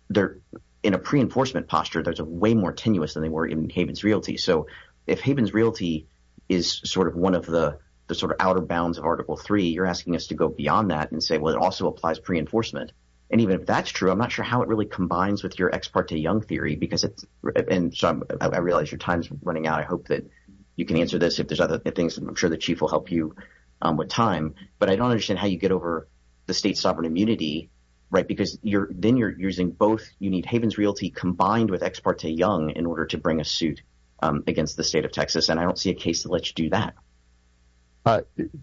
they're in a pre-enforcement posture that's way more tenuous than they were in Havens' realty. So if Havens' realty is sort of one of the sort of outer bounds of Article 3, you're asking us to go beyond that and say, well, it also applies pre-enforcement. And even if that's true, I'm not sure how it really combines with your Ex parte Young theory because it's – and so I realize your time's running out. I hope that you can answer this if there's other things, and I'm sure the chief will help you with time. But I don't understand how you get over the state's sovereign immunity because then you're using both – you need Havens' realty combined with Ex parte Young in order to bring a suit against the state of Texas, and I don't see a case to let you do that.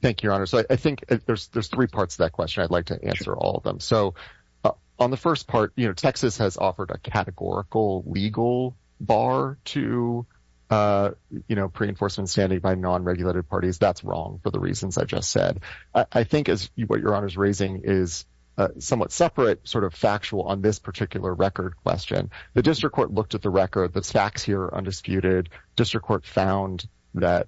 Thank you, Your Honor. So I think there's three parts to that question. I'd like to answer all of them. So on the first part, Texas has offered a categorical legal bar to pre-enforcement standing by non-regulated parties. That's wrong for the reasons I just said. I think what Your Honor's raising is somewhat separate, sort of factual on this particular record question. The district court looked at the record. The facts here are undisputed. District court found that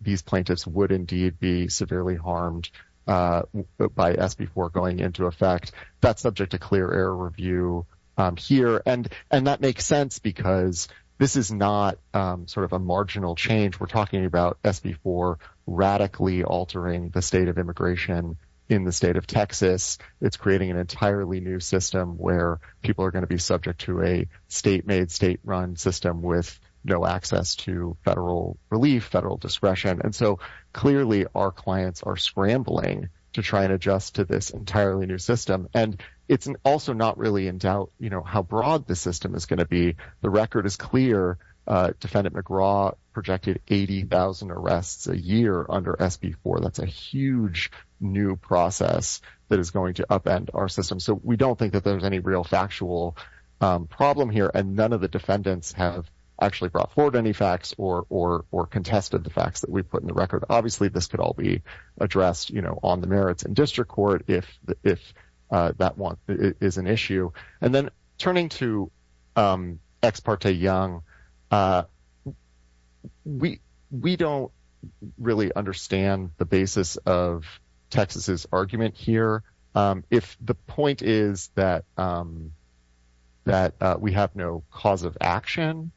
these plaintiffs would indeed be severely harmed by SB 4 going into effect. That's subject to clear error review here, and that makes sense because this is not sort of a marginal change. We're talking about SB 4 radically altering the state of immigration in the state of Texas. It's creating an entirely new system where people are going to be subject to a state-made, state-run system with no access to federal relief, federal discretion. And so clearly our clients are scrambling to try and adjust to this entirely new system, and it's also not really in doubt how broad the system is going to be. The record is clear. Defendant McGraw projected 80,000 arrests a year under SB 4. That's a huge new process that is going to upend our system. So we don't think that there's any real factual problem here, and none of the defendants have actually brought forward any facts or contested the facts that we put in the record. Obviously, this could all be addressed on the merits in district court if that is an issue. And then turning to ex parte Young, we don't really understand the basis of Texas's argument here. If the point is that we have no cause of action,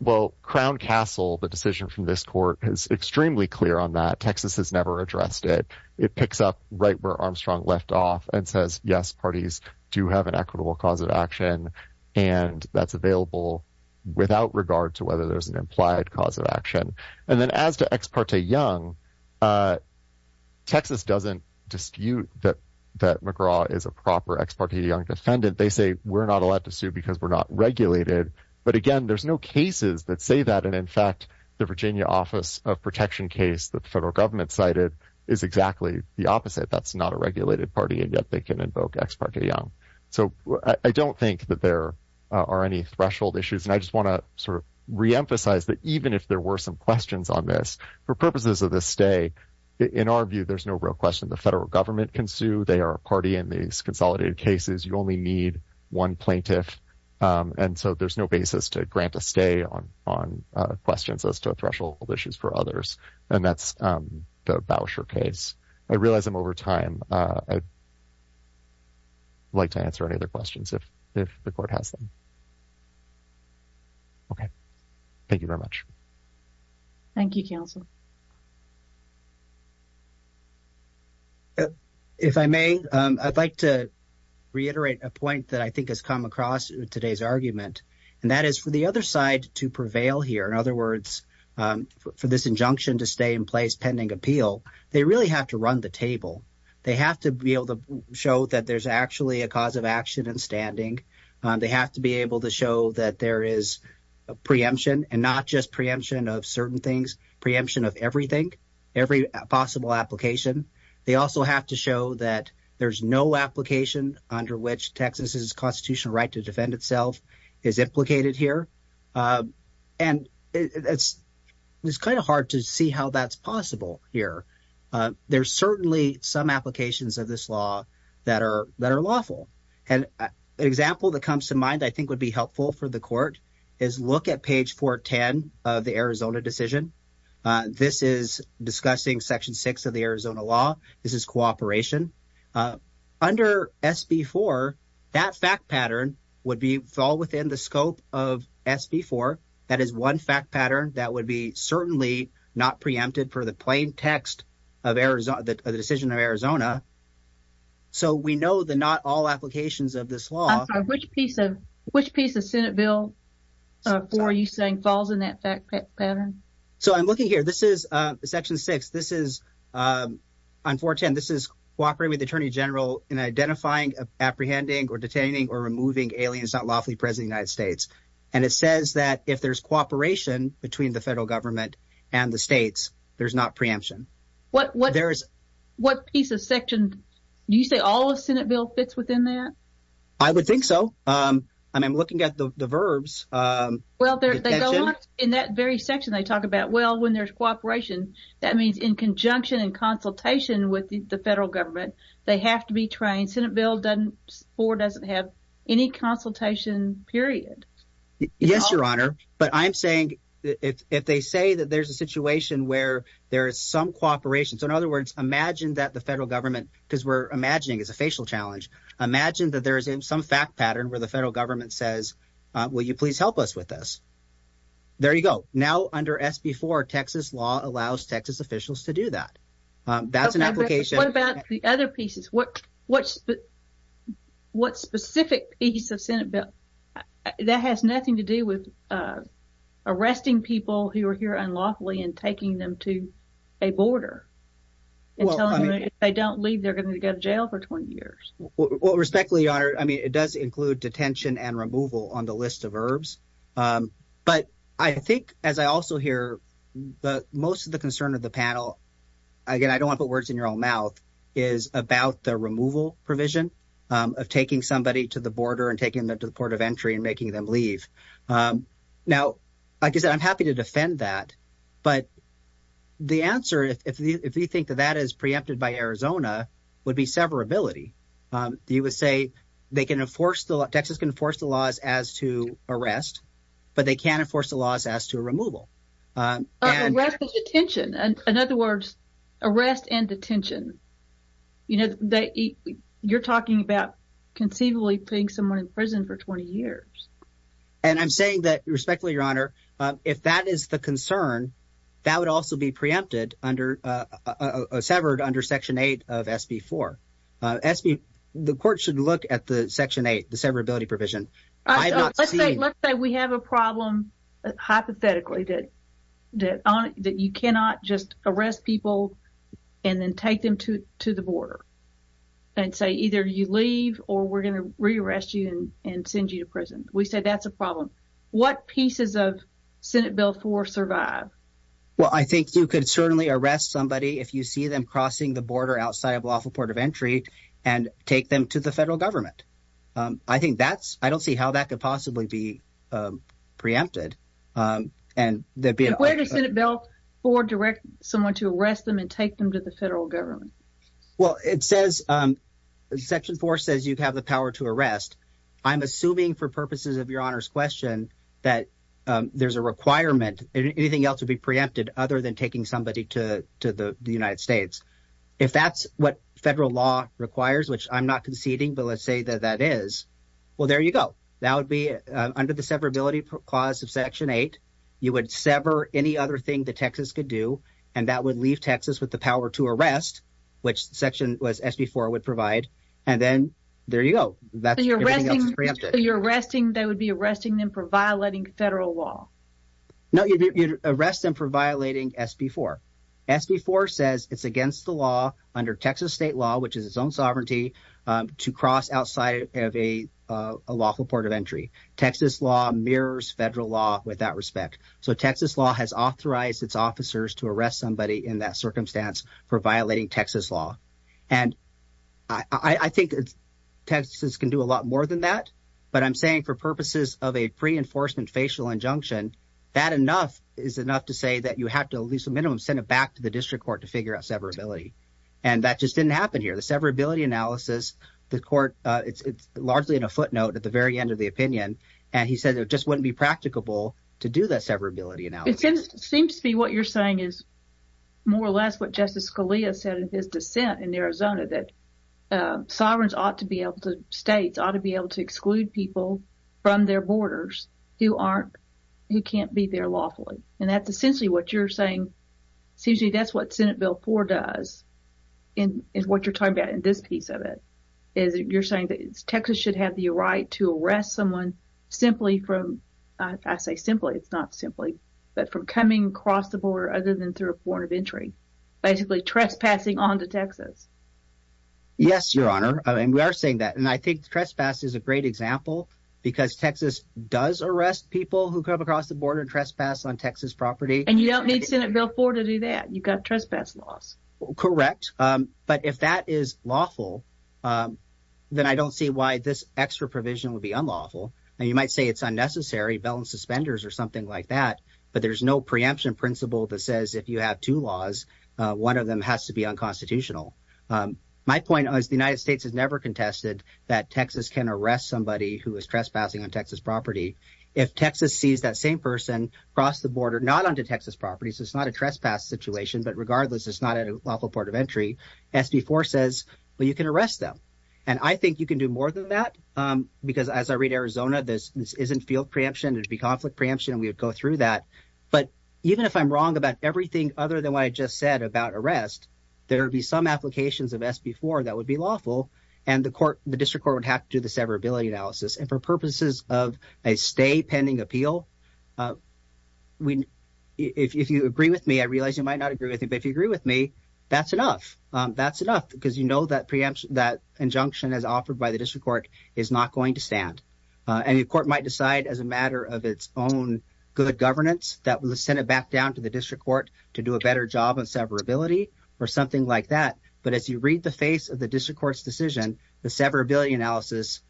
well, Crown Castle, the decision from this court, is extremely clear on that. Texas has never addressed it. It picks up right where Armstrong left off and says, yes, parties do have an equitable cause of action, and that's available without regard to whether there's an implied cause of action. And then as to ex parte Young, Texas doesn't dispute that McGraw is a proper ex parte Young defendant. They say, we're not allowed to sue because we're not regulated. But again, there's no cases that say that, and in fact, the Virginia Office of Protection case that the federal government cited is exactly the opposite. That's not a regulated party, and yet they can invoke ex parte Young. So I don't think that there are any threshold issues, and I just want to sort of reemphasize that even if there were some questions on this, for purposes of this day, in our view, there's no real question. The federal government can sue. They are a party in these consolidated cases. You only need one plaintiff. And so there's no basis to grant a stay on questions as to threshold issues for others, and that's the Bauscher case. I realize I'm over time. I'd like to answer any other questions if the court has them. Okay. Thank you, counsel. If I may, I'd like to reiterate a point that I think has come across today's argument, and that is for the other side to prevail here. In other words, for this injunction to stay in place pending appeal, they really have to run the table. They have to be able to show that there's actually a cause of action in standing. They have to be able to show that there is a preemption and not just preemption of certain things. Preemption of everything, every possible application. They also have to show that there's no application under which Texas's constitutional right to defend itself is implicated here. And it's kind of hard to see how that's possible here. There's certainly some applications of this law that are lawful. And an example that comes to mind I think would be helpful for the court is look at page 410 of the Arizona decision. This is discussing section 6 of the Arizona law. This is cooperation. Under SB 4, that fact pattern would fall within the scope of SB 4. That is one fact pattern that would be certainly not preempted for the plain text of the decision of Arizona. So we know the not all applications of this law. Which piece of Senate Bill 4 are you saying falls in that fact pattern? So I'm looking here. This is section 6. This is on 410. This is cooperating with the Attorney General in identifying, apprehending or detaining or removing aliens not lawfully present in the United States. And it says that if there's cooperation between the federal government and the states, there's not preemption. What piece of section – do you say all of Senate Bill fits within that? I would think so. I'm looking at the verbs. Well, they go on in that very section they talk about. Well, when there's cooperation, that means in conjunction and consultation with the federal government, they have to be trained. Senate Bill 4 doesn't have any consultation period. Yes, Your Honor, but I'm saying if they say that there's a situation where there is some cooperation. So in other words, imagine that the federal government – because we're imagining it's a facial challenge. Imagine that there is some fact pattern where the federal government says, will you please help us with this? There you go. Now under SB 4, Texas law allows Texas officials to do that. That's an application. What about the other pieces? What specific piece of Senate Bill – that has nothing to do with arresting people who are here unlawfully and taking them to a border and telling them if they don't leave, they're going to go to jail for 20 years. Well, respectfully, Your Honor, I mean it does include detention and removal on the list of verbs. But I think as I also hear most of the concern of the panel – again, I don't want to put words in your own mouth – is about the removal provision of taking somebody to the border and taking them to the port of entry and making them leave. Now, like I said, I'm happy to defend that, but the answer, if you think that that is preempted by Arizona, would be severability. You would say they can enforce – Texas can enforce the laws as to arrest, but they can't enforce the laws as to removal. Arrest and detention. In other words, arrest and detention. You're talking about conceivably putting someone in prison for 20 years. And I'm saying that, respectfully, Your Honor, if that is the concern, that would also be preempted under – severed under Section 8 of SB 4. The court should look at the Section 8, the severability provision. Let's say we have a problem hypothetically that you cannot just arrest people and then take them to the border and say either you leave or we're going to re-arrest you and send you to prison. We say that's a problem. What pieces of Senate Bill 4 survive? Well, I think you could certainly arrest somebody if you see them crossing the border outside of lawful port of entry and take them to the federal government. I think that's – I don't see how that could possibly be preempted. Where does Senate Bill 4 direct someone to arrest them and take them to the federal government? Well, it says – Section 4 says you have the power to arrest. I'm assuming for purposes of Your Honor's question that there's a requirement. Anything else would be preempted other than taking somebody to the United States. If that's what federal law requires, which I'm not conceding, but let's say that that is, well, there you go. That would be under the severability clause of Section 8. You would sever any other thing that Texas could do, and that would leave Texas with the power to arrest, which Section – SB 4 would provide, and then there you go. So you're arresting – that would be arresting them for violating federal law? No, you'd arrest them for violating SB 4. SB 4 says it's against the law under Texas state law, which is its own sovereignty, to cross outside of a lawful port of entry. Texas law mirrors federal law with that respect. So Texas law has authorized its officers to arrest somebody in that circumstance for violating Texas law. And I think Texas can do a lot more than that, but I'm saying for purposes of a pre-enforcement facial injunction, that enough is enough to say that you have to at least a minimum send it back to the district court to figure out severability. And that just didn't happen here. The severability analysis, the court – it's largely in a footnote at the very end of the opinion, and he said it just wouldn't be practicable to do that severability analysis. It seems to be what you're saying is more or less what Justice Scalia said in his dissent in Arizona, that sovereigns ought to be able to – states ought to be able to exclude people from their borders who aren't – who can't be there lawfully. And that's essentially what you're saying. It seems to me that's what Senate Bill 4 does and what you're talking about in this piece of it is you're saying that Texas should have the right to arrest someone simply from – I say simply. It's not simply, but from coming across the border other than through a port of entry, basically trespassing onto Texas. Yes, Your Honor, and we are saying that, and I think trespass is a great example because Texas does arrest people who come across the border and trespass on Texas property. And you don't need Senate Bill 4 to do that. You've got trespass laws. Correct, but if that is lawful, then I don't see why this extra provision would be unlawful. And you might say it's unnecessary, bell and suspenders or something like that, but there's no preemption principle that says if you have two laws, one of them has to be unconstitutional. My point is the United States has never contested that Texas can arrest somebody who is trespassing on Texas property. If Texas sees that same person cross the border not onto Texas property, so it's not a trespass situation, but regardless, it's not a lawful port of entry, SB 4 says, well, you can arrest them. And I think you can do more than that, because as I read Arizona, this isn't field preemption. It would be conflict preemption, and we would go through that. But even if I'm wrong about everything other than what I just said about arrest, there would be some applications of SB 4 that would be lawful, and the court, the district court would have to do the severability analysis. And for purposes of a stay pending appeal, if you agree with me, I realize you might not agree with me, but if you agree with me, that's enough. That's enough, because you know that preemption, that injunction as offered by the district court is not going to stand. And the court might decide as a matter of its own good governance that will send it back down to the district court to do a better job of severability or something like that. But as you read the face of the district court's decision, the severability analysis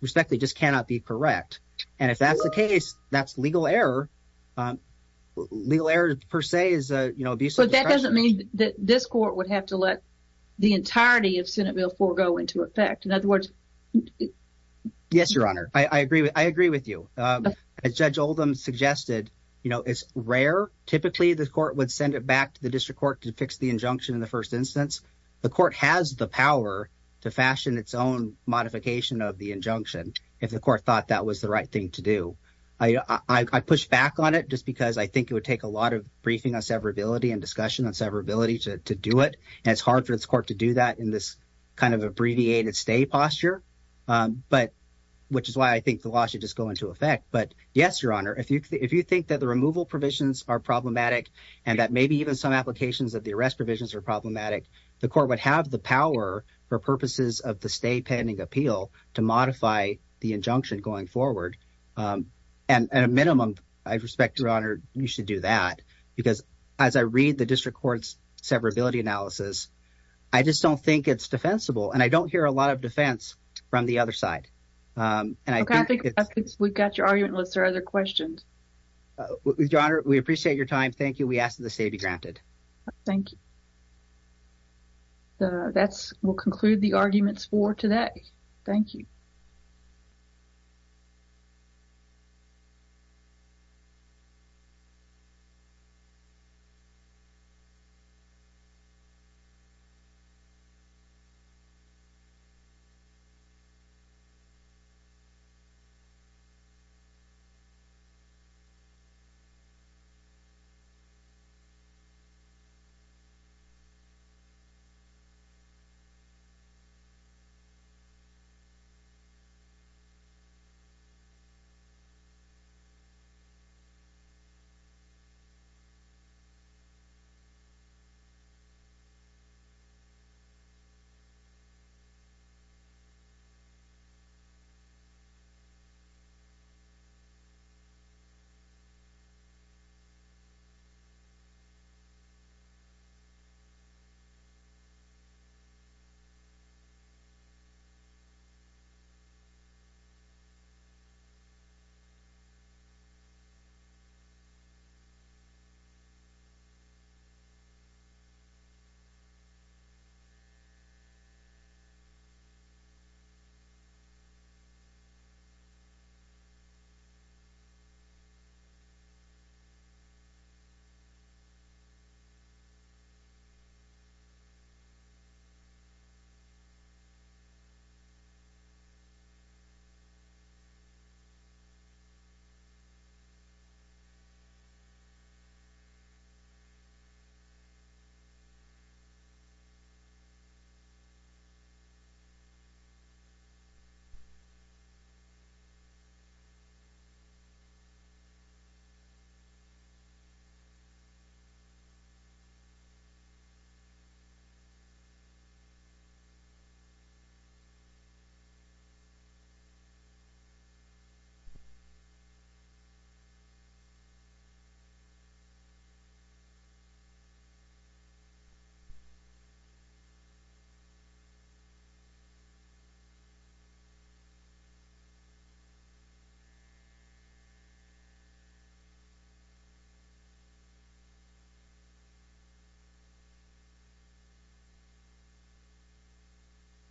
respectfully just cannot be correct. And if that's the case, that's legal error. Legal error, per se, is abusive. But that doesn't mean that this court would have to let the entirety of Senate Bill four go into effect. In other words. Yes, Your Honor. I agree. I agree with you. Judge Oldham suggested it's rare. Typically, the court would send it back to the district court to fix the injunction. In the first instance, the court has the power to fashion its own modification of the injunction. If the court thought that was the right thing to do, I push back on it just because I think it would take a lot of briefing on severability and discussion on severability to do it. And it's hard for its court to do that in this kind of abbreviated stay posture. But which is why I think the law should just go into effect. But yes, Your Honor. If you if you think that the removal provisions are problematic and that maybe even some applications of the arrest provisions are problematic, the court would have the power for purposes of the stay pending appeal to modify the injunction going forward. And at a minimum, I respect your honor. You should do that. Because as I read the district court's severability analysis, I just don't think it's defensible. And I don't hear a lot of defense from the other side. And I think we've got your argument lists or other questions. Your Honor, we appreciate your time. Thank you. We ask that the state be granted. Thank you. We'll conclude the arguments for today. Thank you. Thank you. Thank you. Thank you. Thank you. Thank you.